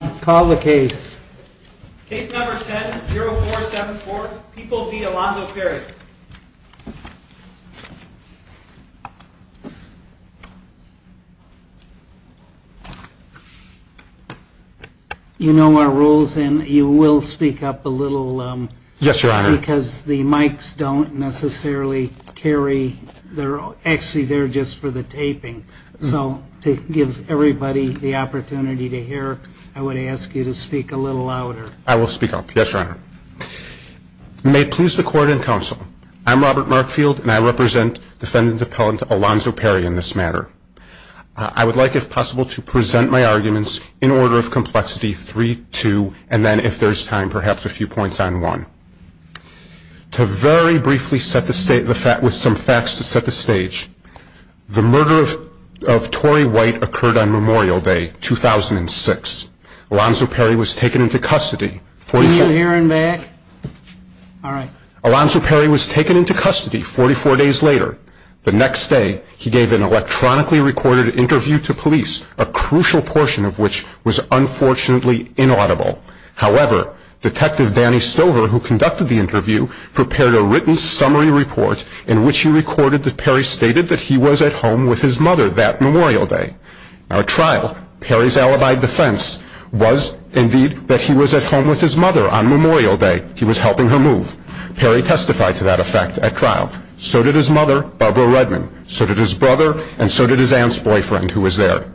and call the case. Case number 10-0474, People v. Alonzo Perry. You know our rules and you will speak up a little. Yes, Your Honor. Because the mics don't necessarily carry, actually they're just for the taping. So to give everybody the opportunity to hear, I would ask you to speak a little louder. I will speak up. Yes, Your Honor. May it please the Court and Counsel, I'm Robert Markfield and I represent Defendant Appellant Alonzo Perry in this matter. I would like if possible to present my arguments in order of complexity 3-2 and then if there's time perhaps a few points on one. To very briefly set the stage, with some facts to set the stage, the murder of Torrey White occurred on Memorial Day, 2006. Alonzo Perry was taken into custody 44 days later. The next day he gave an electronically recorded interview to police, a crucial portion of which was unfortunately inaudible. However, Detective Danny Stover, who conducted the interview, prepared a written summary report in which he recorded that Perry stated that he was at home with his mother that Memorial Day. At trial, Perry's alibi defense was indeed that he was at home with his mother on Memorial Day. He was helping her move. Perry testified to that effect at trial. So did his mother, Barbara Redman. So did his brother and so was there.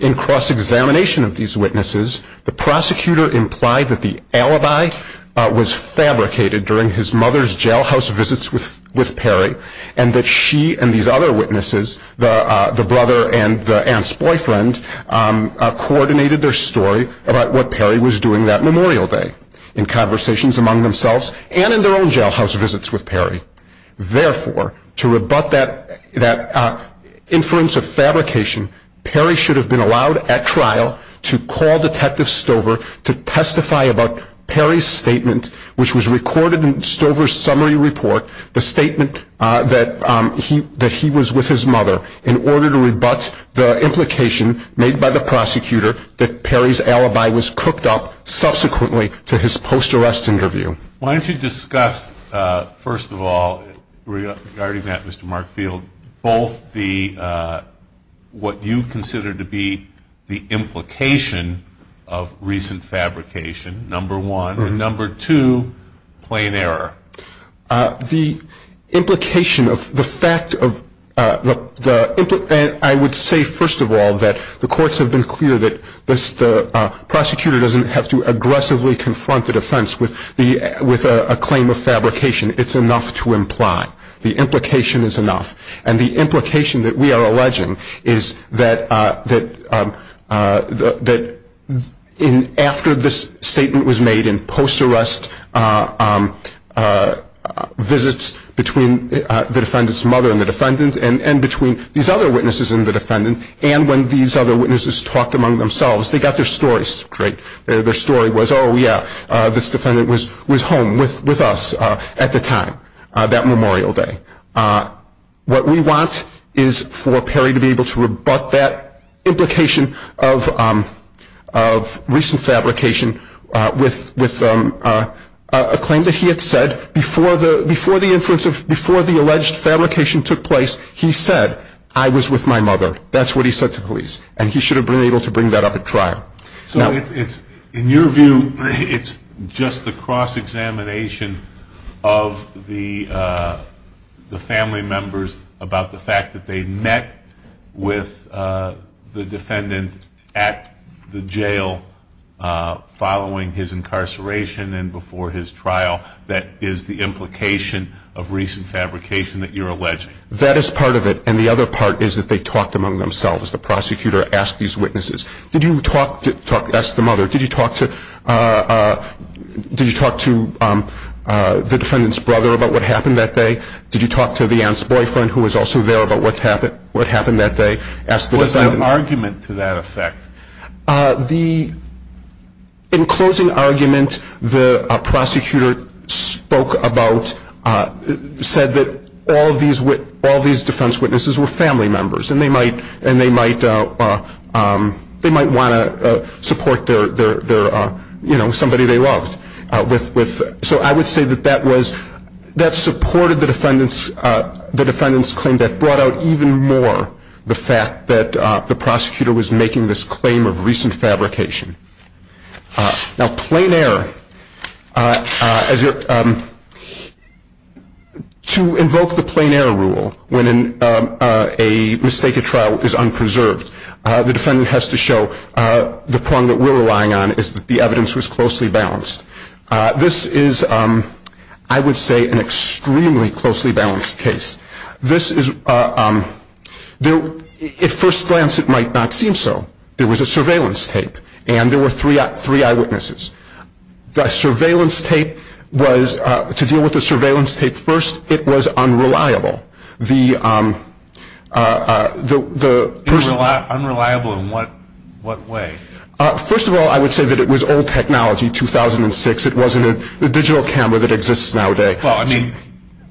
In cross-examination of these witnesses, the prosecutor implied that the alibi was fabricated during his mother's jailhouse visits with Perry and that she and these other witnesses, the brother and the aunt's boyfriend, coordinated their story about what Perry was doing that Memorial Day in conversations among themselves and in their own jailhouse visits with Perry. Therefore, to rebut that inference of fabrication, Perry should have been allowed at trial to call Detective Stover to testify about Perry's statement, which was recorded in Stover's summary report, the statement that he was with his mother in order to rebut the implication made by the prosecutor that Perry's alibi was cooked up subsequently to his post-arrest interview. Why don't you discuss, first of all, regarding that, Mr. Markfield, both the, what you consider to be the implication of recent fabrication, number one, and number two, plain error. The implication of the fact of the, I would say, first of all, that the courts have been clear that the prosecutor doesn't have to aggressively confront the defense with a claim of fabrication. It's enough to imply. The implication is enough. And the implication that we are alleging is that after this statement was made in post-arrest visits between the defendant's mother and the defendant and between these other witnesses and the defendant, and when these other witnesses talked among themselves, they got their stories straight. Their story was, oh yeah, this defendant was home with us at the time, that memorial day. What we want is for Perry to be able to rebut that implication of recent fabrication with a claim that he had said before the alleged fabrication took place, he said, I was with my mother. That's what he said to police. And he should have been able to bring that up at trial. So it's, in your view, it's just the cross-examination of the family members about the fact that they met with the defendant at the jail following his incarceration and before his trial that is the implication of recent fabrication that you're alleging? That is part of it. And the other part is that they talked among themselves. The prosecutor asked these witnesses, did you talk to, asked the mother, did you talk to, did you talk to the defendant's brother about what happened that day? Did you talk to the aunt's boyfriend who was also there about what's happened, what happened that day? What's the argument to that effect? The, in closing argument, the prosecutor spoke about, said that all these defense witnesses were family members and they might want to support their, you know, somebody they loved. So I would say that that was, that supported the defendant's claim. That brought out even more the fact that the prosecutor was making this claim of recent fabrication. Now plain error, to invoke the plain error rule when a mistaken trial is unpreserved, the defendant has to show the prong that we're relying on is that the evidence was closely balanced case. This is, at first glance it might not seem so. There was a surveillance tape and there were three eyewitnesses. The surveillance tape was, to deal with the surveillance tape first, it was unreliable. The, the, the person Unreliable in what, what way? First of all, I would say that it was old technology, 2006. It wasn't a digital camera that exists nowadays. Well, I mean,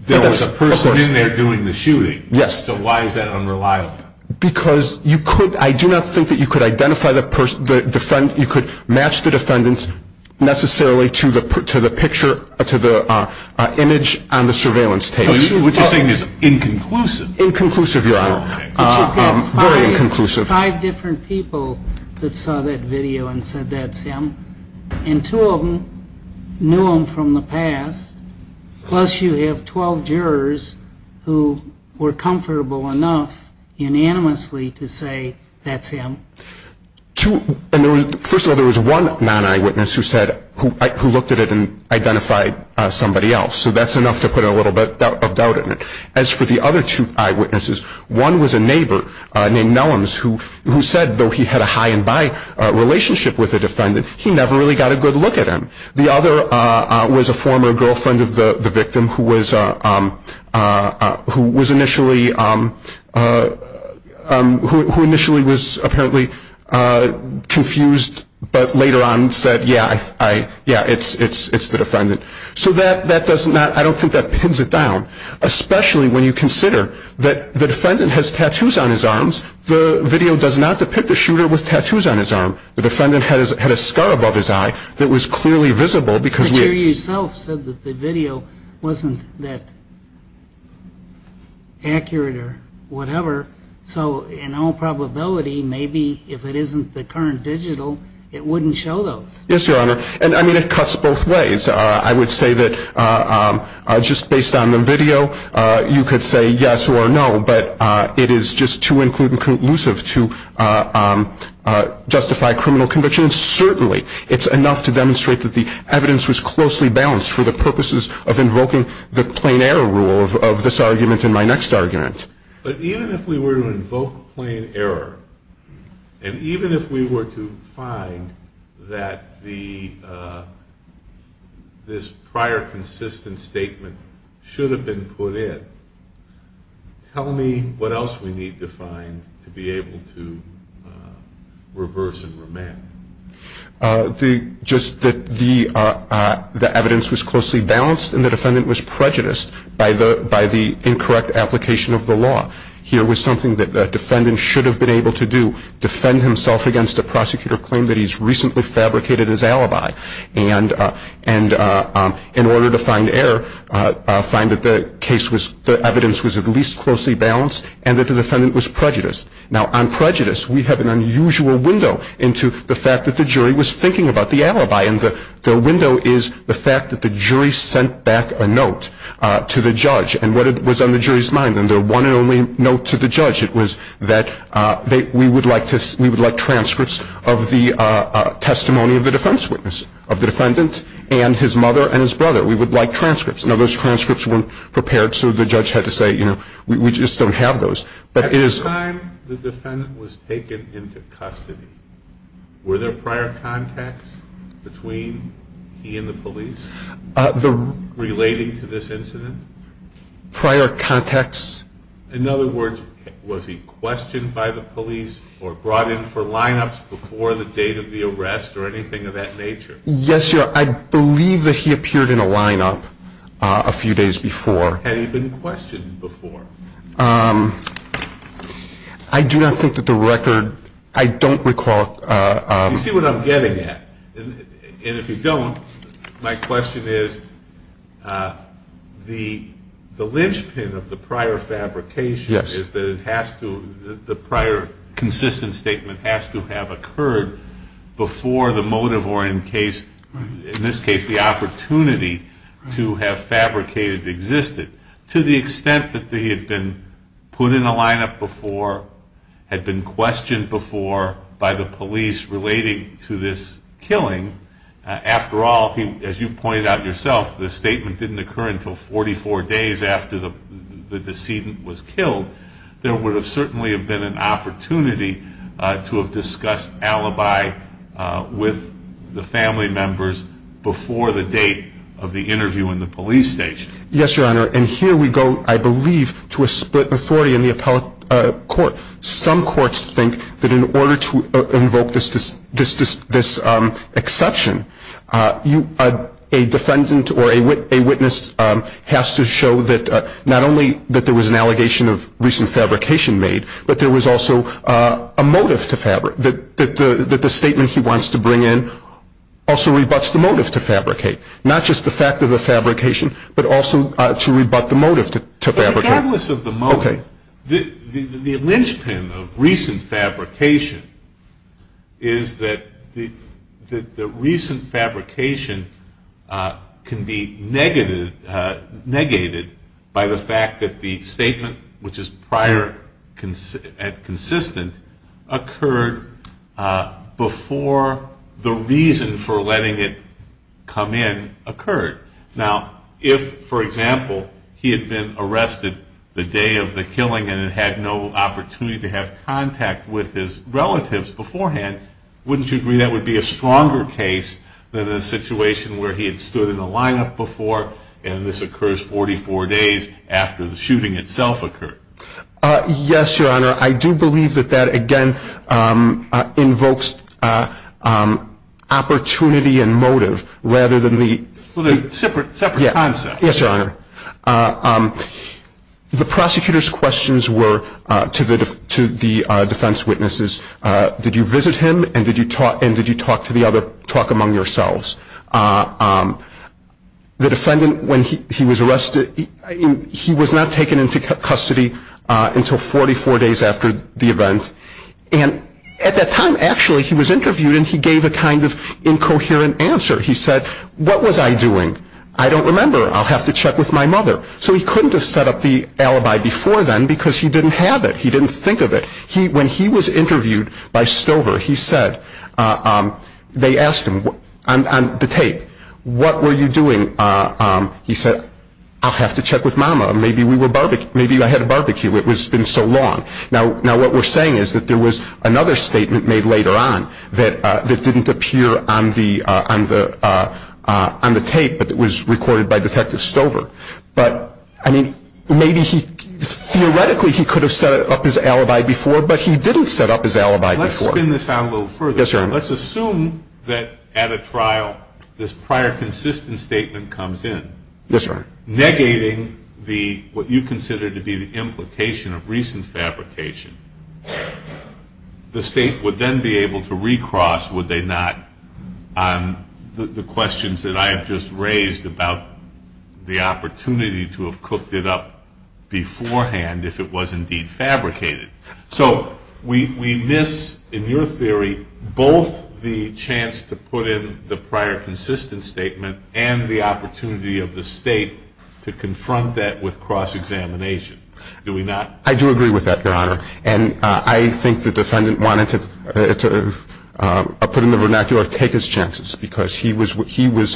there was a person in there doing the shooting. So why is that unreliable? Because you could, I do not think that you could identify the person, the defend, you could match the defendant necessarily to the, to the picture, to the image on the surveillance tape. Which you're saying is inconclusive. Inconclusive, your honor. Very inconclusive. But you've got five, five different people that saw that video and said that's him. And two of them knew him from the past, plus you have 12 jurors who were comfortable enough unanimously to say that's him. Two, and there was, first of all, there was one non-eyewitness who said, who, who looked at it and identified somebody else. So that's enough to put a little bit of doubt in it. As for the other two eyewitnesses, one was a neighbor named Nellums who, who said, though he had a high and by relationship with the defendant, he never really got a good look at him. The other was a former girlfriend of the victim who was, who was initially, who initially was apparently confused, but later on said, yeah, I, yeah, it's, it's, it's the defendant. So that, that does not, I don't think that pins it down, especially when you consider that the defendant has tattoos on his arms. The video does not depict a shooter with tattoos on his arm. The defendant has, had a scar above his eye that was clearly visible because we But you yourself said that the video wasn't that accurate or whatever. So in all probability, maybe if it isn't the current digital, it wouldn't show those. Yes, Your Honor. And I mean, it cuts both ways. I would say that just based on the video, you could say yes or no, but it is just too inclusive to justify criminal conviction. Certainly it's enough to demonstrate that the evidence was closely balanced for the purposes of invoking the plain error rule of this argument in my next argument. But even if we were to invoke plain error, and even if we were to find that the, this prior consistent statement should have been put in, tell me what else we need to find to be able to reverse and remand. Just that the, the evidence was closely balanced and the defendant was prejudiced by the, by the incorrect application of the law. Here was something that the defendant should have been able to do, defend himself against a prosecutor claim that he's recently fabricated in his alibi. And, and in order to find error, find that the case was, the evidence was at least closely balanced and that the defendant was prejudiced. Now on prejudice, we have an unusual window into the fact that the jury was thinking about the alibi. And the window is the fact that the jury sent back a note to the judge. And what was on the jury's mind, and their one and only note to the judge, it was that they, we would like to, we would like transcripts of the testimony of the defense witness, of the defendant and his mother and his brother. We would like transcripts. Now those transcripts weren't prepared, so the judge had to say, you know, we, we just don't have those. But it is. At the time the defendant was taken into custody, were there prior contacts between he and the police? The. Relating to this incident? Prior contacts. In other words, was he questioned by the police or brought in for lineups before the date of the arrest or anything of that nature? Yes, your, I believe that he appeared in a lineup a few days before. Had he been questioned before? I do not think that the record, I don't recall. You see what I'm getting at? And if you don't, my question is, the, the linchpin of the prior fabrication. Yes. Is that it has to, the prior consistent statement has to have occurred before the motive or in case, in this case, the opportunity to have fabricated existed. To the extent that he had been put in a lineup before, had been questioned before by the police relating to this killing, after all, as you pointed out yourself, the statement didn't occur until 44 days after the, the decedent was killed. There would have certainly have been an opportunity to have discussed alibi with the family members before the date of the interview in the police station. Yes, your honor. And here we go, I believe, to a split authority in the appellate court. Some courts think that in order to invoke this, this, this, this exception, you, a defendant or a witness has to show that not only that there was an allegation of recent fabrication made, but there was also a motive to fabric, that the statement he wants to bring in also rebuts the motive to fabricate. Not just the fact of the fabrication, but also to rebut the motive to fabricate. But regardless of the motive, the, the linchpin of recent fabrication is that the, the recent fabrication can be negated, negated by the fact that the statement, which is prior and consistent, occurred before the reason for letting it come in occurred. Now if, for example, he had been arrested the day of the killing and had no opportunity to have contact with his relatives beforehand, wouldn't you agree that would be a stronger case than a situation where he had stood in a lineup before, and this occurs 44 days after the shooting itself occurred? Yes, your honor. I do believe that that, again, invokes opportunity and motive rather than the Separate, separate concept. Yes, your honor. The prosecutor's questions were to the, to the defense witnesses, did you visit him and did you talk, and did you talk to the other, talk among yourselves? The defendant, when he, he was arrested, he was not taken into custody until 44 days after the event. And at that time, actually, he was interviewed and he gave a kind of incoherent answer. He said, what was I doing? I don't remember. I'll have to check with my mother. So he couldn't have set up the alibi before then because he didn't have it. He didn't think of it. He, when he was interviewed by Stover, he said, they asked him on the tape, what were you doing? He said, I'll have to check with mama. Maybe we were barbecuing, maybe I had a barbecue. It was, it's been so long. Now, now what we're saying is that there was another statement made later on that, that didn't appear on the, on the, on the tape, but it was recorded by he didn't set up his alibi before. Let's spin this out a little further. Yes, sir. Let's assume that at a trial, this prior consistent statement comes in. Yes, sir. Negating the, what you consider to be the implication of recent fabrication. The state would then be able to recross, would they not, on the questions that I have just stated. So we, we miss, in your theory, both the chance to put in the prior consistent statement and the opportunity of the state to confront that with cross-examination, do we not? I do agree with that, your honor. And I think the defendant wanted to, to put in the vernacular, take his chances because he was, he was,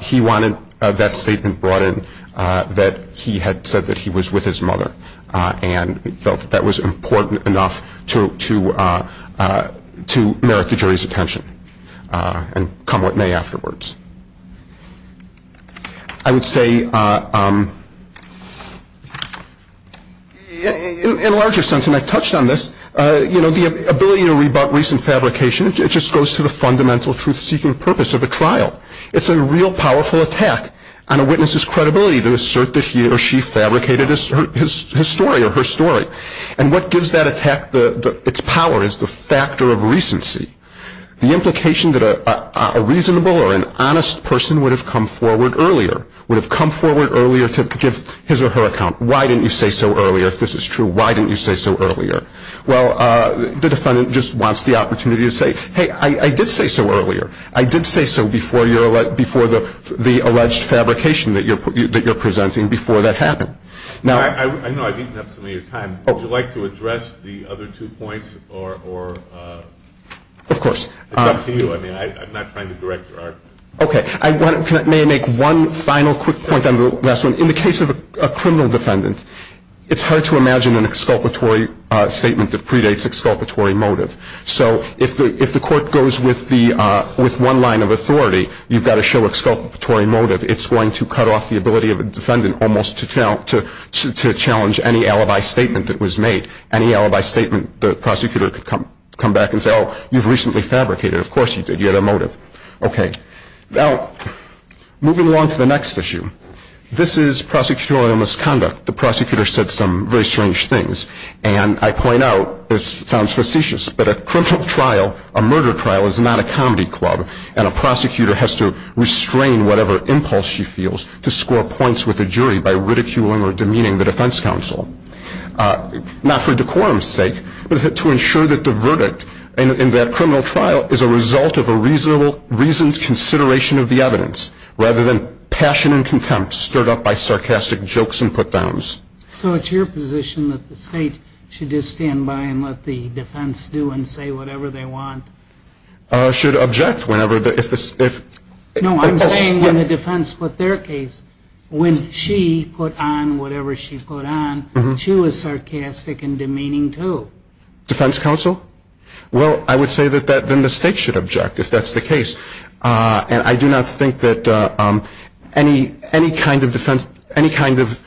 he wanted that statement brought in that he had said that he was with his mother and felt that that was important enough to, to, to merit the jury's attention and come what may afterwards. I would say, in a larger sense, and I've touched on this, you know, the ability to rebut recent fabrication, it just goes to the fundamental truth-seeking purpose of a trial. It's a real powerful attack on a witness's credibility to assert that he or she fabricated his story or her story. And what gives that attack its power is the factor of recency. The implication that a reasonable or an honest person would have come forward earlier, would have come forward earlier to give his or her account. Why didn't you say so earlier? If this is true, why didn't you say so earlier? Well, the defendant just wants the opportunity to say, hey, I did say so earlier. I did say so before your, before the, the alleged fabrication that you're, that you're presenting before that happened. Now- I know I've eaten up some of your time. Would you like to address the other two points or, or- Of course. It's up to you. I mean, I'm not trying to direct your argument. Okay. I want to, may I make one final quick point on the last one? In the case of a criminal defendant, it's hard to imagine an exculpatory statement that predates exculpatory motive. So if the, if the court goes with the, with one line of authority, you've got to show exculpatory motive. It's going to cut off the ability of a defendant almost to challenge any alibi statement that was made. Any alibi statement, the prosecutor could come, come back and say, oh, you've recently fabricated it. Of course you did. You had a motive. Okay. Now, moving along to the next issue. This is prosecutorial misconduct. The prosecutor said some very strange things. And I point out, this sounds facetious, but a criminal trial, a murder trial, is not a comedy club. And a prosecutor has to restrain whatever impulse she feels to score points with a jury by ridiculing or demeaning the defense counsel. Not for decorum's sake, but to ensure that the verdict in that criminal trial is a result of a reasonable, reasoned consideration of the evidence, rather than passion and contempt stirred up by sarcastic jokes and put-downs. So it's your position that the State should just stand by and let the defense do and say whatever they want? Should object whenever the, if the, if... No, I'm saying when the defense put their case, when she put on whatever she put on, she was sarcastic and demeaning too. Defense counsel? Well, I would say that that, then the State should object, if that's the kind of defense, any kind of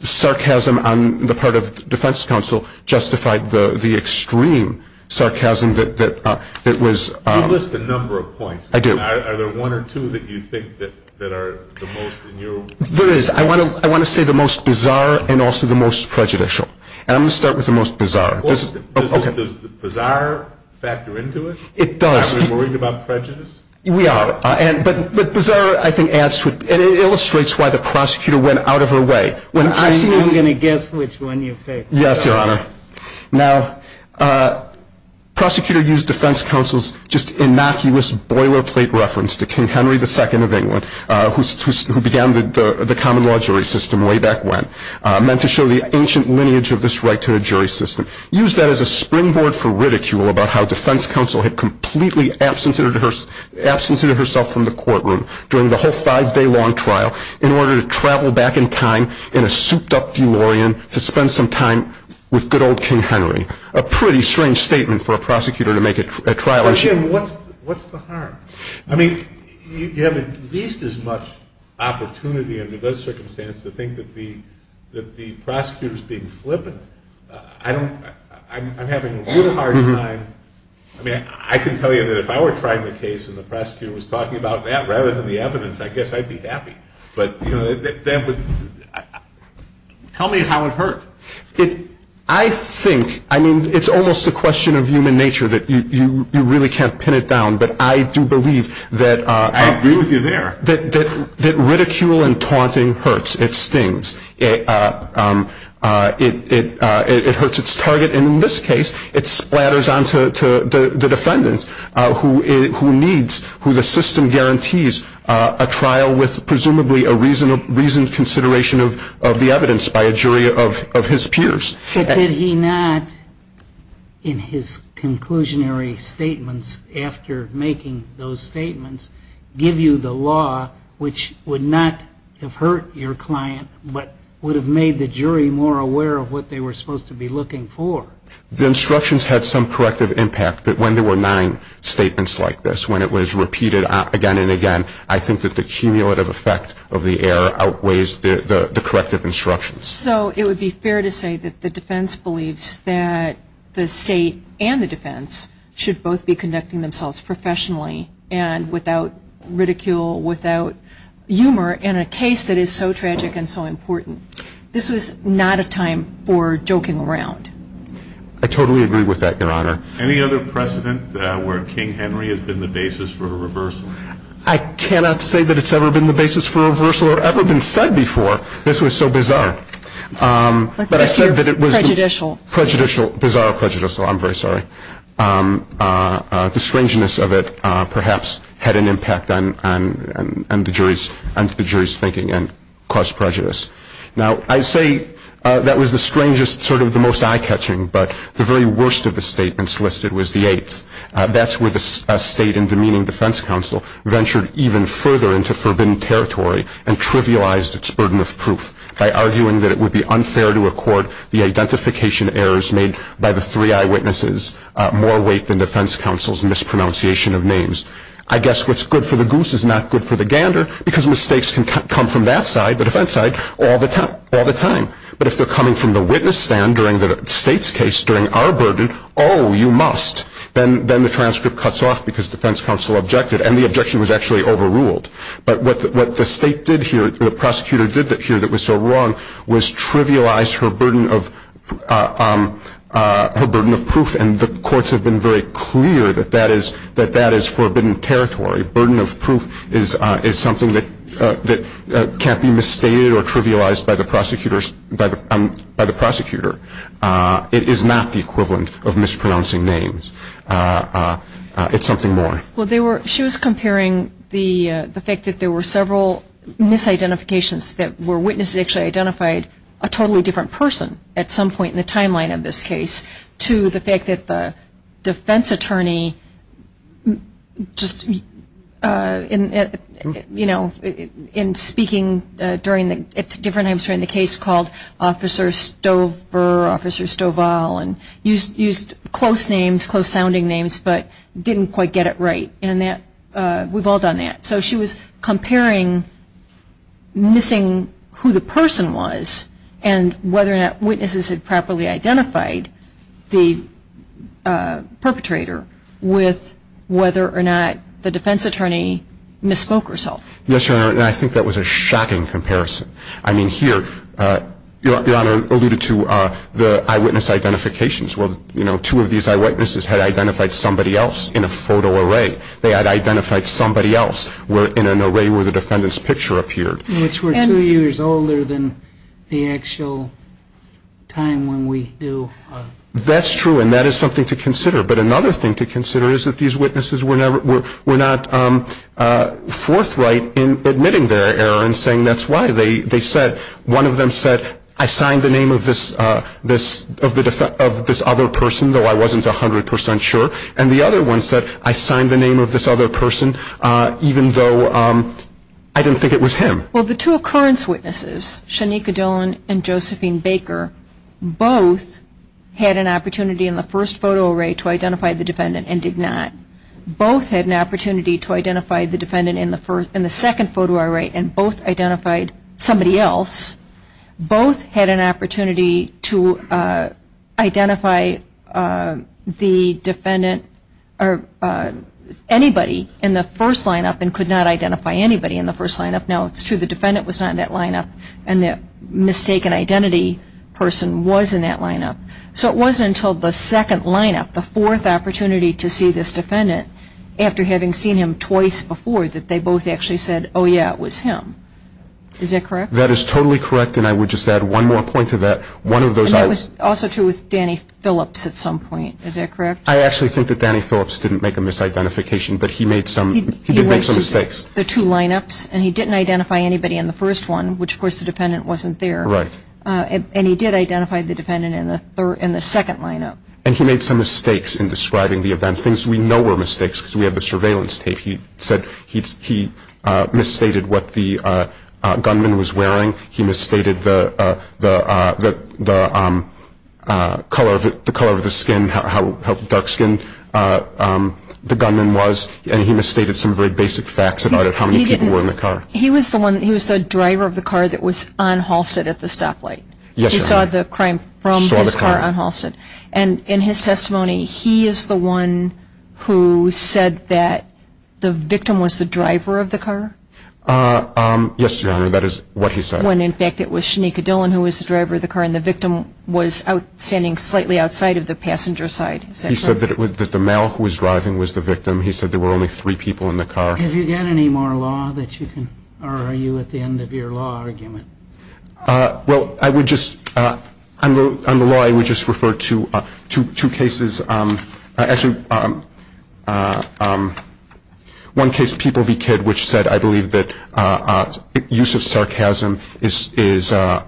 sarcasm on the part of defense counsel justified the extreme sarcasm that was... You list a number of points. I do. Are there one or two that you think that are the most in your... There is. I want to say the most bizarre and also the most prejudicial. And I'm going to start with the most bizarre. Well, does the bizarre factor into it? It does. Are we worried about prejudice? We are. But the bizarre, I think, adds to it and it illustrates why the prosecutor went out of her way. I'm going to guess which one you picked. Yes, Your Honor. Now, prosecutor used defense counsel's just innocuous boilerplate reference to King Henry II of England, who began the common law jury system way back when, meant to show the ancient lineage of this right to a jury system. Used that as a springboard for ridicule about how defense counsel had completely absented herself from the courtroom during the whole five-day-long trial in order to travel back in time in a souped-up DeLorean to spend some time with good old King Henry. A pretty strange statement for a prosecutor to make at trial... But again, what's the harm? I mean, you have at least as much opportunity under this circumstance to think that the prosecutor's being flippant. I don't... I'm having a really hard time... I mean, I can tell you that if I were trying the case and the prosecutor was talking about that rather than the evidence, I guess I'd be happy. But, you know, that would... Tell me how it hurt. I think... I mean, it's almost a question of human nature that you really can't pin it down, but I do believe that... I agree with you there. ...that ridicule and taunting hurts. It stings. It hurts its target, and in this case, it splatters onto the defendant who needs, who the system guarantees, a trial with presumably a reasoned consideration of the evidence by a jury of his peers. But did he not, in his conclusionary statements after making those statements, give you the law which would not have hurt your client, but would have made the jury more aware of what they were supposed to be looking for? The instructions had some corrective impact, but when there were nine statements like this, when it was repeated again and again, I think that the cumulative effect of the error outweighs the corrective instructions. So it would be fair to say that the defense believes that the State and the defense should both be conducting themselves professionally and without ridicule, without humor in a case that is so tragic and so important. This was not a time for joking around. I totally agree with that, Your Honor. Any other precedent where King Henry has been the basis for a reversal? I cannot say that it's ever been the basis for a reversal or ever been said before. This was so bizarre, but I said that it was prejudicial. Bizarre or prejudicial, I'm very sorry. The strangeness of it perhaps had an impact on the jury's thinking and caused prejudice. Now I say that was the strangest, sort of the most eye-catching, but the very worst of the statements listed was the eighth. That's where the State and demeaning defense counsel ventured even further into forbidden territory and trivialized its burden of proof by arguing that it would be unfair to accord the identification errors made by the three eyewitnesses more weight than defense counsel's mispronunciation of names. I guess what's good for the goose is not good for the gander because mistakes can come from that side, the defense side, all the time. But if they're coming from the witness stand during the State's case, during our burden, oh, you must. Then the transcript cuts off because defense counsel objected, and the objection was actually overruled. But what the State did here, what the prosecutor did here that was so wrong was trivialize her burden of proof, and the courts have been very clear that that is forbidden territory. Burden of proof is something that can't be misstated or trivialized by the prosecutor. It is not the equivalent of mispronouncing names. It's something more. Well, she was comparing the fact that there were several misidentifications that were witnesses actually identified a totally different person at some point in the timeline of this case to the fact that the defense attorney just, you know, in speaking at different times during the case called Officer Stover, Officer Stovall, and used close names, close sounding names, but didn't quite get it right. And that, we've all done that. So she was comparing missing who the person was and whether or not witnesses had properly identified the perpetrator with whether or not the defense attorney misspoke herself. Yes, Your Honor, and I think that was a shocking comparison. I mean, here, Your Honor alluded to the eyewitness identifications. Well, you know, two of these eyewitnesses had identified somebody else in a photo array. They had identified somebody else in an array where the defendant's picture appeared. Which were two years older than the actual time when we do. That's true, and that is something to consider. But another thing to consider is that these their error in saying that's why. They said, one of them said, I signed the name of this other person, though I wasn't 100 percent sure. And the other one said, I signed the name of this other person, even though I didn't think it was him. Well, the two occurrence witnesses, Shanika Dillon and Josephine Baker, both had an opportunity in the first photo array to identify the defendant and did not. Both had an opportunity to identify the defendant in the second photo array and both identified somebody else. Both had an opportunity to identify the defendant or anybody in the first lineup and could not identify anybody in the first lineup. Now, it's true the defendant was not in that lineup, and the mistaken identity person was in that lineup. So it wasn't until the second lineup, the fourth opportunity to see this defendant, after having seen him twice before, that they both actually said, oh, yeah, it was him. Is that correct? That is totally correct, and I would just add one more point to that. One of those items And that was also true with Danny Phillips at some point. Is that correct? I actually think that Danny Phillips didn't make a misidentification, but he made some mistakes. He went to the two lineups, and he didn't identify anybody in the first one, which, of course, the defendant wasn't there, and he did identify the defendant in the second lineup. And he made some mistakes in describing the event, things we know were mistakes, because we have the surveillance tape. He said he misstated what the gunman was wearing. He misstated the color of the skin, how dark-skinned the gunman was, and he misstated some very basic facts about how many people were in the car. He was the driver of the car that was on Halsted at the stoplight. Yes, I remember. He saw the crime from his car on Halsted. And in his testimony, he is the one who said that the victim was the driver of the car? Yes, Your Honor, that is what he said. When, in fact, it was Shanika Dillon who was the driver of the car, and the victim was standing slightly outside of the passenger side. Is that correct? He said that the male who was driving was the victim. He said there were only three people in the car. Have you got any more law that you can, or are you at the end of your law argument? Well, I would just, on the law, I would just refer to two cases. Actually, one case, People v. Kidd, which said, I believe, that use of sarcasm is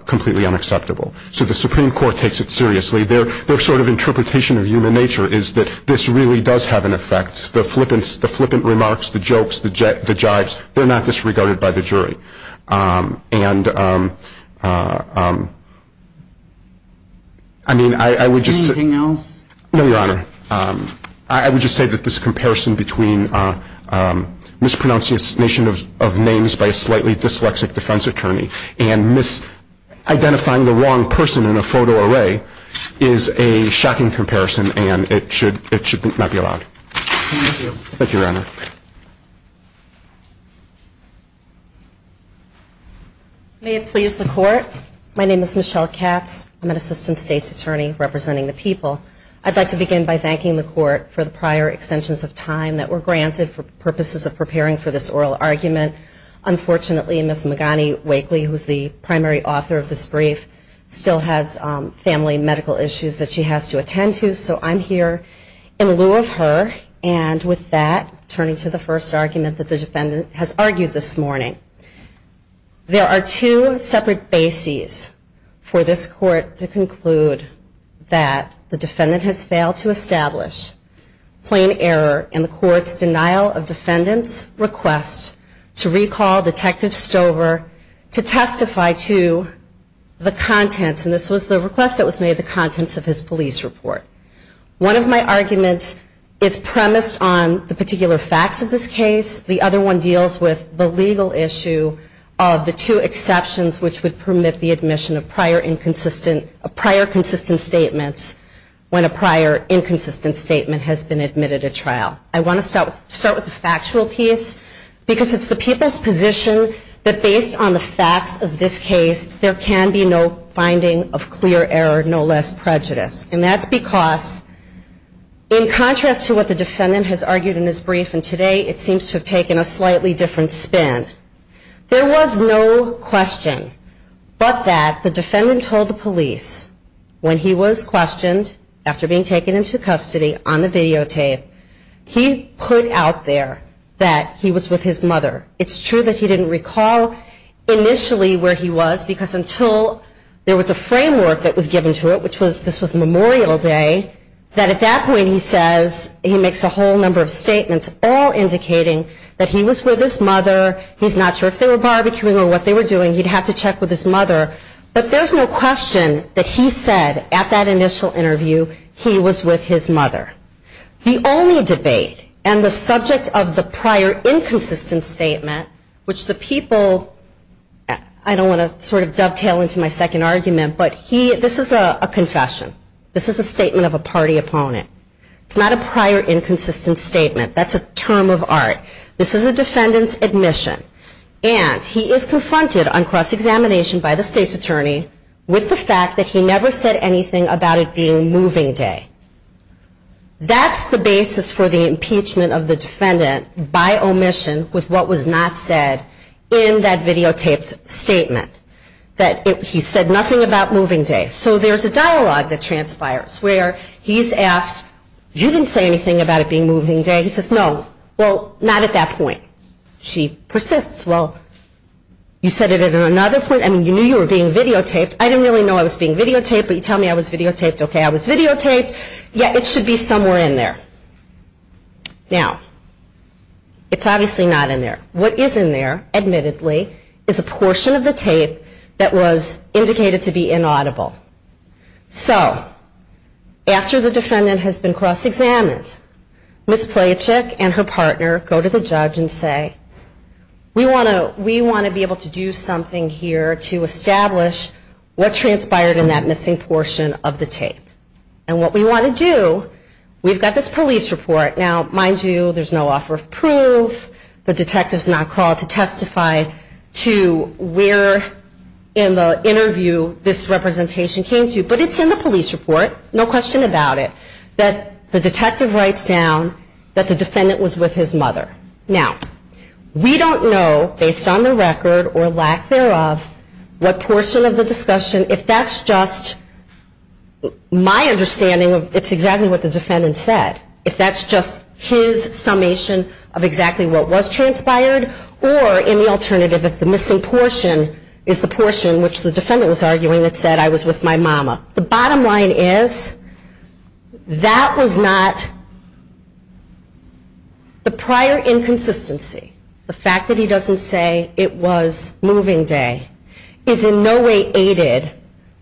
completely unacceptable. So the Supreme Court takes it seriously. Their sort of interpretation of human nature is that this really does have an effect. The flippant remarks, the jokes, the jibes, they are not I mean, I would just say that this comparison between mispronunciation of names by a slightly dyslexic defense attorney and misidentifying the wrong person in a photo array is a shocking comparison and it should not be allowed. Thank you, Your Honor. May it please the Court. My name is Michelle Katz. I'm an Assistant State's Attorney representing the People. I'd like to begin by thanking the Court for the prior extensions of time that were granted for purposes of preparing for this oral argument. Unfortunately, Ms. Magani Wakely, who is the primary author of this brief, still has family medical issues that she has to attend to, so I'm here in lieu of her. And with that, turning to the first argument that the defendant has argued this morning. There are two separate bases for this Court to conclude that the defendant has failed to establish plain error in the Court's denial of defendant's request to recall Detective Stover to testify to the contents of his police report. One of my arguments is premised on the particular facts of this case. The other one deals with the legal issue of the two exceptions which would permit the admission of prior inconsistent, prior consistent statements when a prior inconsistent statement has been admitted at trial. I want to start with the factual piece because it's the People's position that based on the facts of this case, there can be no finding of clear error, no less prejudice. And that's because in contrast to what the defendant has argued in his brief and today it seems to have taken a slightly different spin, there was no question but that the defendant told the police when he was questioned after being taken into custody on the videotape, he put out there that he was with his mother. It's true that he didn't recall initially where he was because until there was a framework that was given to it which was, this was Memorial Day, that at that point he says, he makes a whole number of statements all indicating that he was with his mother. He's not sure if they were barbecuing or what they were doing. He'd have to check with his mother. But there's no question that he said at that initial interview he was with his mother. The only debate and the subject of the prior inconsistent statement which the people, I don't want to sort of dovetail into my second argument, but he, this is a confession. This is a statement of a party opponent. It's not a prior inconsistent statement. That's a term of art. This is a defendant's admission. And he is confronted on cross-examination by the state's attorney with the fact that he never said anything about it being moving day. That's the basis for the impeachment of the defendant by omission with what was not said in that videotaped statement. That he said nothing about moving day. So there's a dialogue that transpires where he's asked, you didn't say anything about it being moving day. He says, no, well, not at that point. She persists. Well, you said it at another point. I mean, you knew you were being videotaped. I didn't really know I was being videotaped, but you tell me I was videotaped. Okay, I was videotaped. Yeah, it should be somewhere in there. Now, it's obviously not in there. What is in there, admittedly, is a portion of the tape that was indicated to be inaudible. So after the defendant has been cross-examined, Ms. Plachek and her partner go to the judge and say, we want to be able to do something here to establish what transpired in that missing portion of the tape. And what we want to do, we've got this police report. Now, this is not called to testify to where in the interview this representation came to, but it's in the police report, no question about it, that the detective writes down that the defendant was with his mother. Now, we don't know, based on the record or lack thereof, what portion of the discussion, if that's just my understanding of it's exactly what the defendant said, if that's just his summation of exactly what was transpired, or in the alternative, if the missing portion is the portion which the defendant was arguing that said I was with my mama. The bottom line is, that was not the prior inconsistency. The fact that he doesn't say it was moving day is in no way aided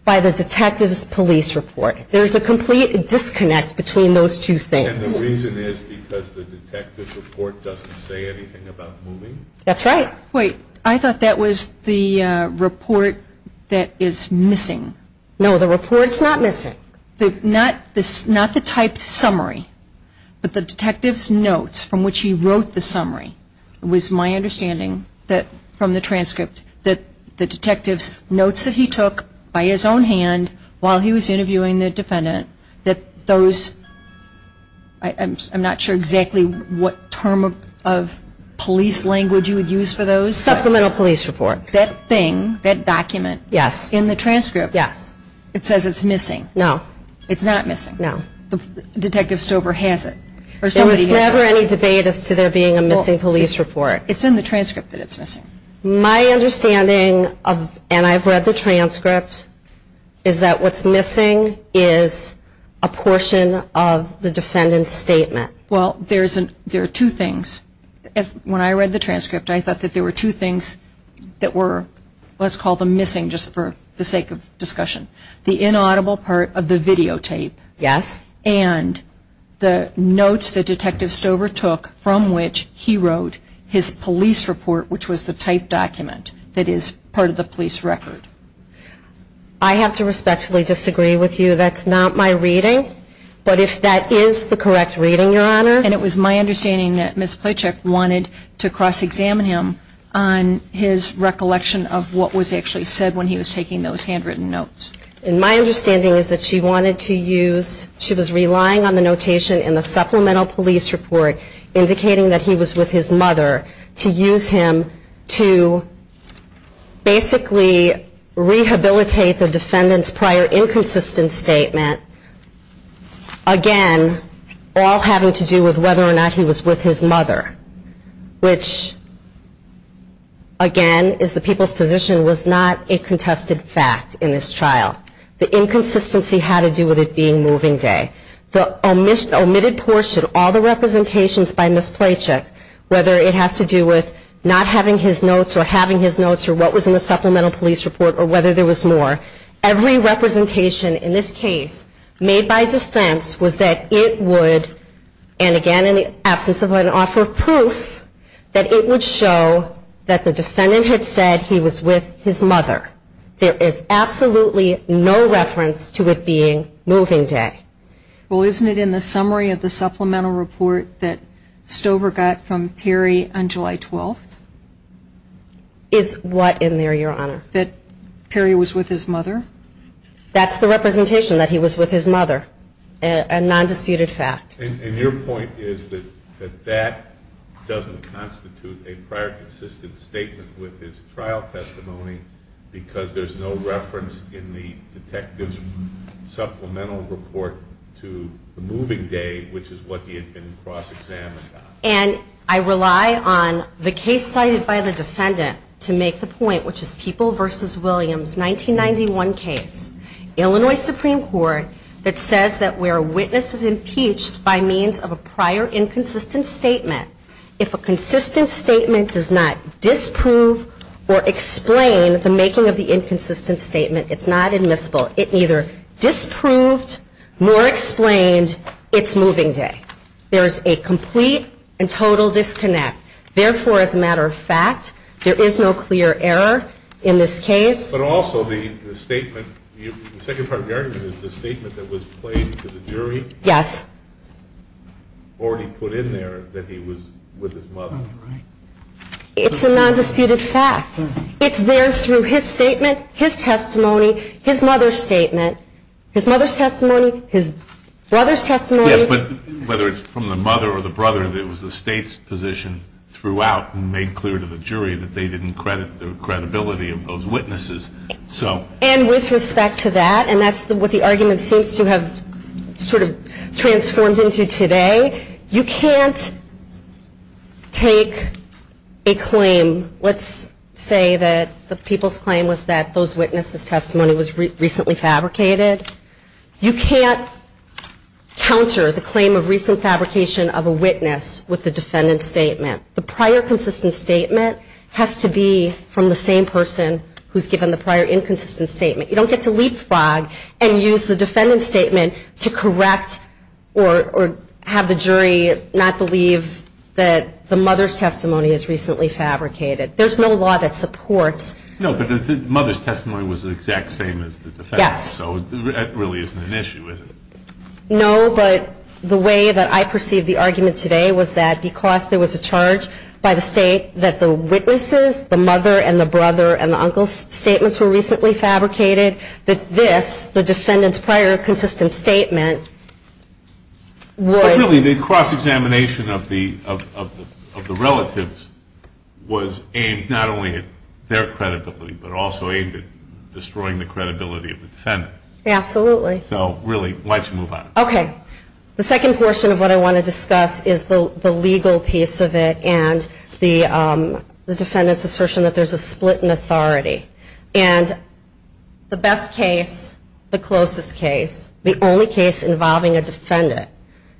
by the detective's police report. There's a complete disconnect between those two things. And the reason is because the detective's report doesn't say anything about moving? That's right. Wait, I thought that was the report that is missing. No, the report's not missing. Not the typed summary, but the detective's notes from which he wrote the summary was my understanding that from the transcript that the detective's notes that he took by his own hand while he was interviewing the defendant, that those, I'm not sure exactly what term of police language you would use for those. Supplemental police report. That thing, that document, in the transcript, it says it's missing. No. It's not missing. No. The detective Stover has it. There was never any debate as to there being a missing police report. It's in the transcript that it's missing. My understanding of, and I've read the transcript, is that what's missing is a portion of the defendant's statement. Well, there are two things. When I read the transcript, I thought that there were two things that were, let's call them missing just for the sake of discussion. The inaudible part of the videotape and the notes that Detective Stover took from which he wrote his police report, which was the type document that is part of the police record. I have to respectfully disagree with you. That's not my reading. But if that is the correct reading, Your Honor. And it was my understanding that Ms. Plachek wanted to cross-examine him on his recollection of what was actually said when he was taking those handwritten notes. And my understanding is that she wanted to use, she was relying on the notation in the case that he was with his mother to use him to basically rehabilitate the defendant's prior inconsistent statement, again, all having to do with whether or not he was with his mother, which, again, is the people's position, was not a contested fact in this trial. The inconsistency had to do with it being moving day. The omitted portion, all the representations by Ms. Plachek, whether it has to do with not having his notes or having his notes or what was in the supplemental police report or whether there was more, every representation in this case made by defense was that it would, and again in the absence of an offer of proof, that it would show that the defendant had said he was with his mother. There is absolutely no reference to it being moving day. Well, isn't it in the summary of the supplemental report that Stover got from Perry on July 12th? Is what in there, Your Honor? That Perry was with his mother? That's the representation, that he was with his mother, a nondisputed fact. And your point is that that doesn't constitute a prior consistent statement with his trial testimony because there's no reference in the detective's supplemental report to the moving day, which is what he had been cross-examined on. And I rely on the case cited by the defendant to make the point, which is People v. Williams, 1991 case, Illinois Supreme Court, that says that where a witness is impeached by means of a prior inconsistent statement, if a consistent statement does not disprove or explain the making of the inconsistent statement, it's not admissible. It neither disproved nor explained its moving day. There's a complete and total disconnect. Therefore, as a matter of fact, there is no clear error in this case. But also the statement, the second part of your argument is the statement that was played to the jury. Yes. Or he put in there that he was with his mother. It's a nondisputed fact. It's there through his statement, his testimony, his mother's statement. His mother's testimony, his brother's testimony. Yes, but whether it's from the mother or the brother, it was the state's position throughout who made clear to the jury that they didn't credit the credibility of those witnesses. And with respect to that, and that's what the argument seems to have sort of transformed into today, you can't take a claim. Let's say that the people's claim was that those witnesses' testimony was recently fabricated. You can't counter the claim of recent fabrication of a witness with the defendant's statement. The prior consistent statement has to be from the same person who's given the prior inconsistent statement. You don't get to leapfrog and use the defendant's statement to correct or have the jury not believe that the mother's testimony is recently fabricated. There's no law that supports. No, but the mother's testimony was the exact same as the defendant's. Yes. So that really isn't an issue, is it? No, but the way that I perceive the argument today was that because there was a charge by the state that the witnesses, the mother and the brother and the uncle's statements were recently fabricated, that this, the defendant's prior consistent statement, would But really the cross-examination of the relatives was aimed not only at their credibility, but also aimed at destroying the credibility of the defendant. Absolutely. So really, why don't you move on. Okay. The second portion of what I want to discuss is the legal piece of it and the defendant's assertion that there's a split in authority. And the best case, the closest case, the only case involving a defendant,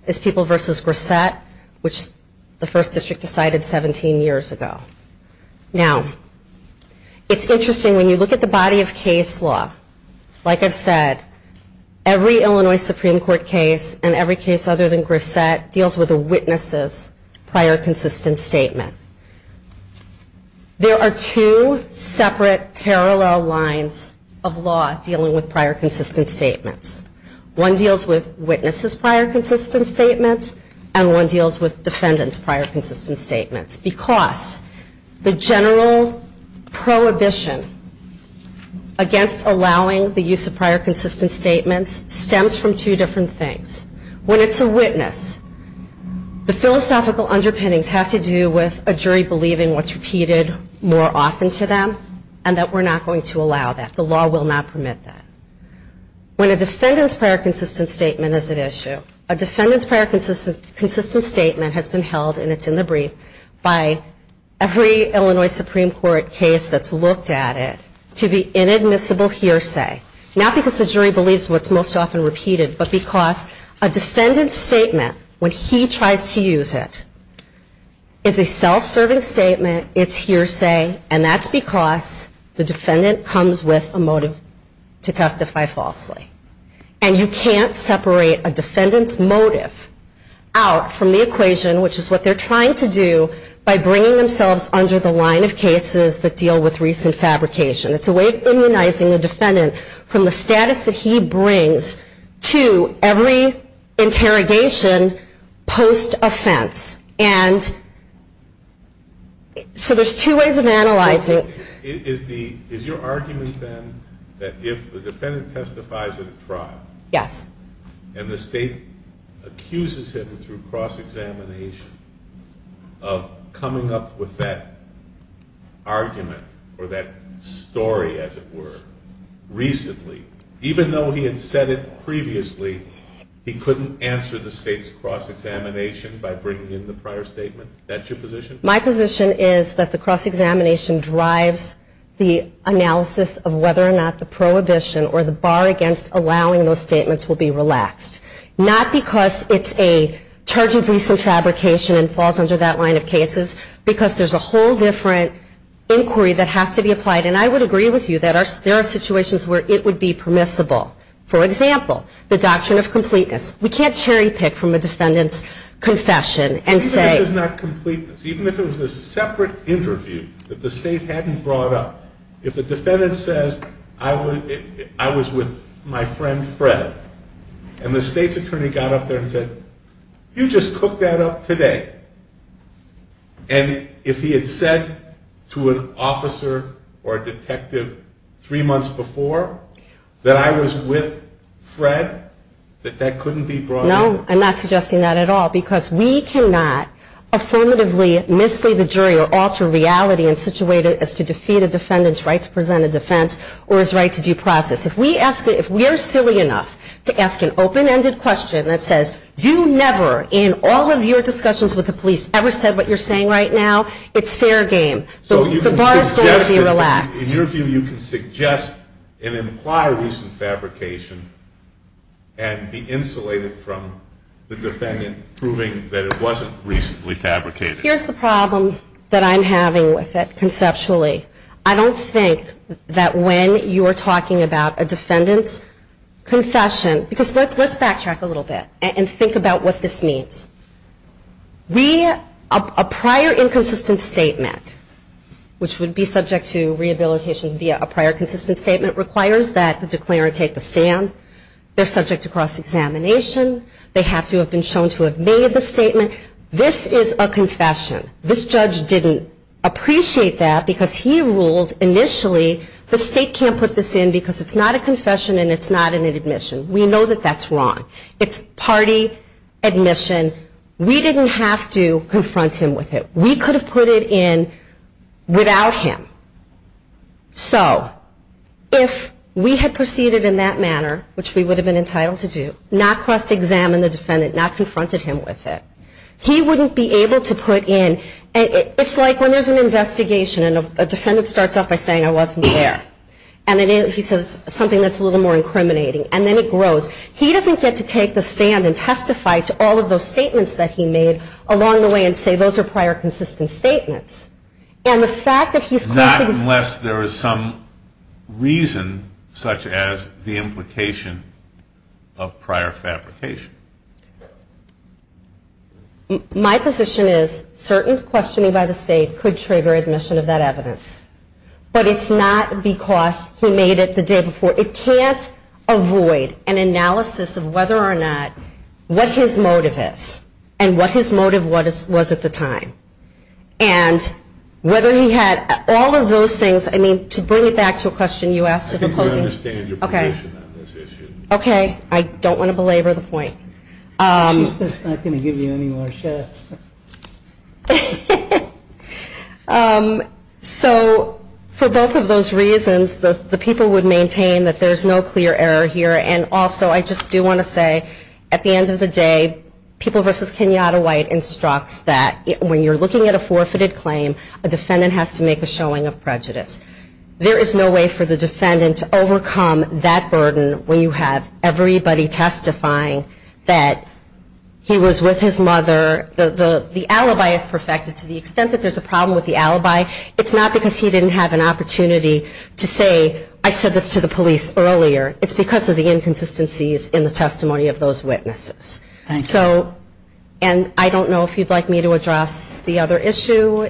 is People v. Grissett, which the First District decided 17 years ago. Now, it's interesting when you look at the body of case law. Like I've said, every Illinois Supreme Court case, and every case other than Grissett, deals with a witness's prior consistent statement. There are two separate parallel lines of law dealing with prior consistent statements. One deals with witnesses' prior consistent statements, and one deals with defendants' prior consistent statements. Because the general prohibition against allowing the use of prior consistent statements stems from two different things. When it's a witness, the philosophical underpinnings have to do with a jury believing what's repeated more often to them, and that we're not going to allow that. The law will not permit that. When a defendant's prior consistent statement is at issue, a defendant's prior consistent statement has been held, and it's in the brief, by every Illinois Supreme Court case that's looked at it, to be inadmissible hearsay. Not because the jury believes what's most often repeated, but because a defendant's statement, when he tries to use it, is a self-serving statement, it's hearsay, and that's because the defendant comes with a motive to testify falsely. And you can't separate a defendant's motive out from the equation, which is what they're trying to do, by bringing themselves under the line of cases that deal with recent fabrication. It's a way of immunizing the defendant from the status that he brings to every interrogation post-offense. And so there's two ways of analyzing it. Is your argument, then, that if the defendant testifies at a trial, and the state accuses him through cross-examination of coming up with that argument, or that story, as it were, recently, even though he had said it previously, he couldn't answer the state's cross-examination by bringing in the prior statement? My position is that the cross-examination drives the analysis of whether or not the prohibition or the bar against allowing those statements will be relaxed. Not because it's a charge of recent fabrication and falls under that line of cases, because there's a whole different inquiry that has to be applied. And I would agree with you that there are situations where it would be permissible. For example, the doctrine of completeness. We can't cherry-pick from a defendant's confession and say... Even if it was not completeness, even if it was a separate interview that the state hadn't brought up, if the defendant says, I was with my friend Fred, and the state's attorney got up there and said, you just cooked that up today. And if he had said to an officer or a detective three months before that I was with Fred, that that couldn't be brought up? No, I'm not suggesting that at all, because we cannot affirmatively mislead the jury or alter reality in such a way as to defeat a defendant's right to present a defense or his right to due process. If we're silly enough to ask an open-ended question that says, you never in all of your discussions with the police ever said what you're saying right now, it's fair game. So the bar is going to be relaxed. In your view, you can suggest and imply recent fabrication and be insulated from the defendant proving that it wasn't recently fabricated. Here's the problem that I'm having with it conceptually. I don't think that when you're talking about a defendant's confession, because let's backtrack a little bit and think about what this means. A prior inconsistent statement, which would be subject to rehabilitation via a prior consistent statement, requires that the declarer take the stand. They're subject to cross-examination. They have to have been shown to have made the statement. This is a confession. This judge didn't appreciate that because he ruled initially the state can't put this in because it's not a confession and it's not an admission. We know that that's wrong. It's party admission. We didn't have to confront him with it. We could have put it in without him. So if we had proceeded in that manner, which we would have been entitled to do, not cross-examine the defendant, not confronted him with it, he wouldn't be able to put in. It's like when there's an investigation and a defendant starts off by saying, I wasn't there, and then he says something that's a little more incriminating, and then it grows. He doesn't get to take the stand and testify to all of those statements that he made along the way and say those are prior consistent statements. Not unless there is some reason such as the implication of prior fabrication. My position is certain questioning by the state could trigger admission of that evidence. But it's not because he made it the day before. It can't avoid an analysis of whether or not what his motive is and what his motive was at the time. And whether he had all of those things. To bring it back to a question you asked. I don't want to belabor the point. So for both of those reasons, the people would maintain that there's no clear error here. And also I just do want to say at the end of the day, People v. Kenyatta White instructs that when you're looking at a forfeited claim, there is no way for the defendant to overcome that burden when you have everybody testifying that he was with his mother. The alibi is perfected to the extent that there's a problem with the alibi. It's not because he didn't have an opportunity to say I said this to the police earlier. It's because of the inconsistencies in the testimony of those witnesses. And I don't know if you'd like me to address the other issue.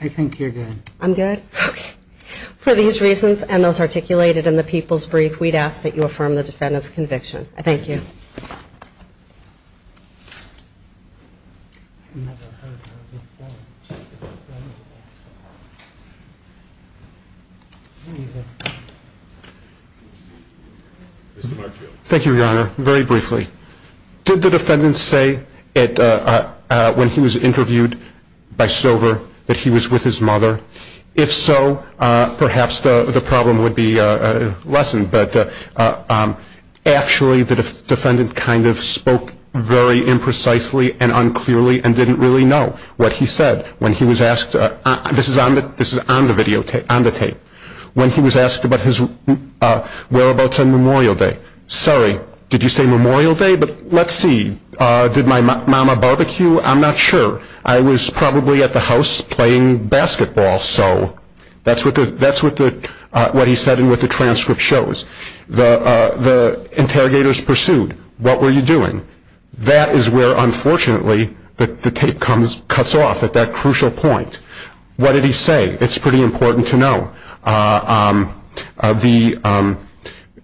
I think you're good. I'm good? Okay. For these reasons and those articulated in the people's brief, we'd ask that you affirm the defendant's conviction. Thank you. Thank you, Your Honor. Very briefly, did the defendant say when he was interviewed by Stover that he was with his mother? If so, perhaps the problem would be lessened. But actually, the defendant kind of spoke very imprecisely and unclearly and didn't really know what he said. This is on the tape. When he was asked about his whereabouts on Memorial Day, sorry, did you say Memorial Day? But let's see, did my mom have barbecue? I'm not sure. I was probably at the house playing basketball. So that's what he said and what the transcript shows. The interrogators pursued, what were you doing? That is where, unfortunately, the tape cuts off at that crucial point. What did he say? It's pretty important to know.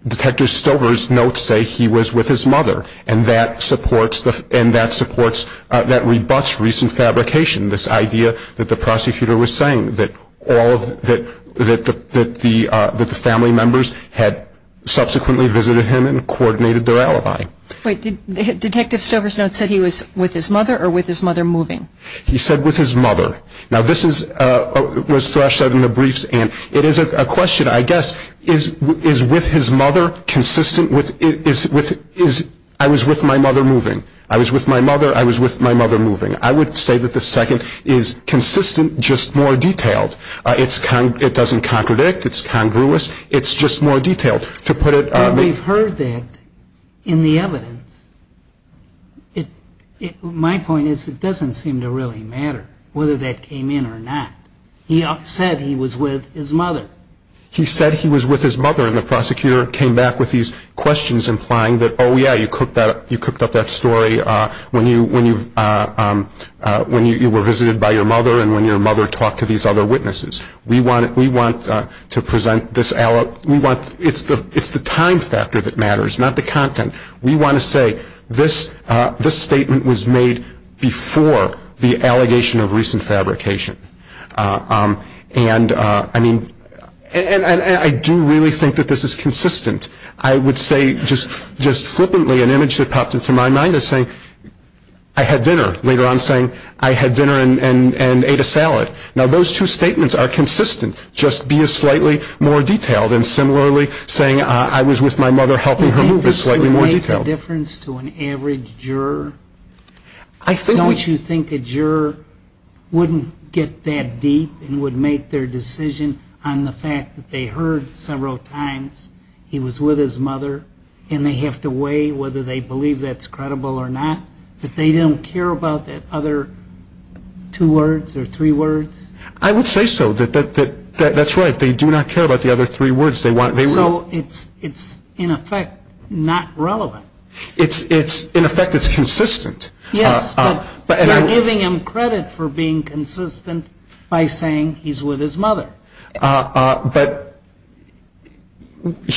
Detective Stover's notes say he was with his mother and that supports, that rebuts recent fabrication, this idea that the prosecutor was saying, that the family members had subsequently visited him and coordinated their alibi. Wait, did Detective Stover's notes say he was with his mother or with his mother moving? He said with his mother. It is a question, I guess, is with his mother consistent, I was with my mother moving, I was with my mother, I was with my mother moving. I would say that the second is consistent, just more detailed. It doesn't contradict, it's congruous, it's just more detailed. We've heard that in the evidence. My point is it doesn't seem to really matter whether that came in or not. He said he was with his mother. He said he was with his mother and the prosecutor came back with these questions implying that, oh yeah, you cooked up that story when you were visited by your mother and when your mother talked to these other witnesses. It's the time factor that matters, not the content. We want to say this statement was made before the allegation of recent fabrication. And I do really think that this is consistent. I would say just flippantly an image that popped into my mind is saying, I had dinner, later on saying I had dinner and ate a salad. Now those two statements are consistent, just be a slightly more detailed and similarly saying I was with my mother helping her move is slightly more detailed. Do you think this would make a difference to an average juror? Don't you think a juror wouldn't get that deep and would make their decision on the fact that they heard several times he was with his mother and they have to weigh whether they believe that's credible or not, that they don't care about the other two words or three words? I would say so. That's right, they do not care about the other three words. So it's in effect not relevant. In effect it's consistent. Yes, but you're giving him credit for being consistent by saying he's with his mother. But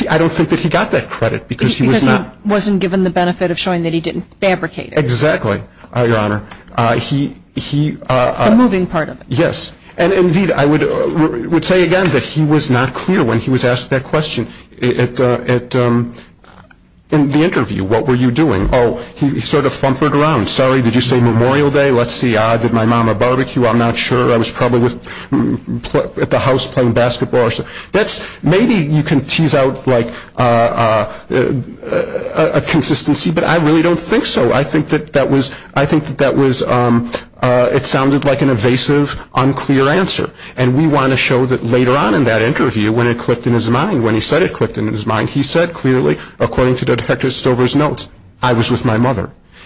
I don't think that he got that credit because he was not. Because he wasn't given the benefit of showing that he didn't fabricate it. Exactly, Your Honor. The moving part of it. Yes. And, indeed, I would say again that he was not clear when he was asked that question. In the interview, what were you doing? Oh, he sort of flumpered around. Sorry, did you say Memorial Day? Let's see, did my mom have barbecue? I'm not sure. I was probably at the house playing basketball or something. Maybe you can tease out like a consistency, but I really don't think so. I think that that was, it sounded like an evasive, unclear answer. And we want to show that later on in that interview when it clicked in his mind, when he said it clicked in his mind, he said clearly,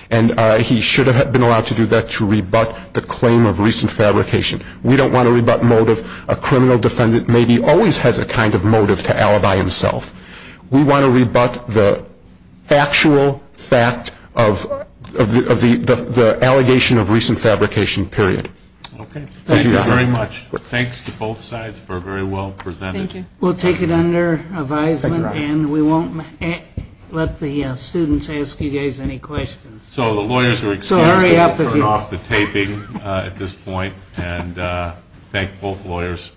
And he should have been allowed to do that to rebut the claim of recent fabrication. We don't want to rebut motive. A criminal defendant maybe always has a kind of motive to alibi himself. We want to rebut the actual fact of the allegation of recent fabrication, period. Okay. Thank you very much. Thanks to both sides for very well presenting. We'll take it under advisement. And we won't let the students ask you guys any questions. So the lawyers are excused and we'll turn off the taping at this point. And thank both lawyers.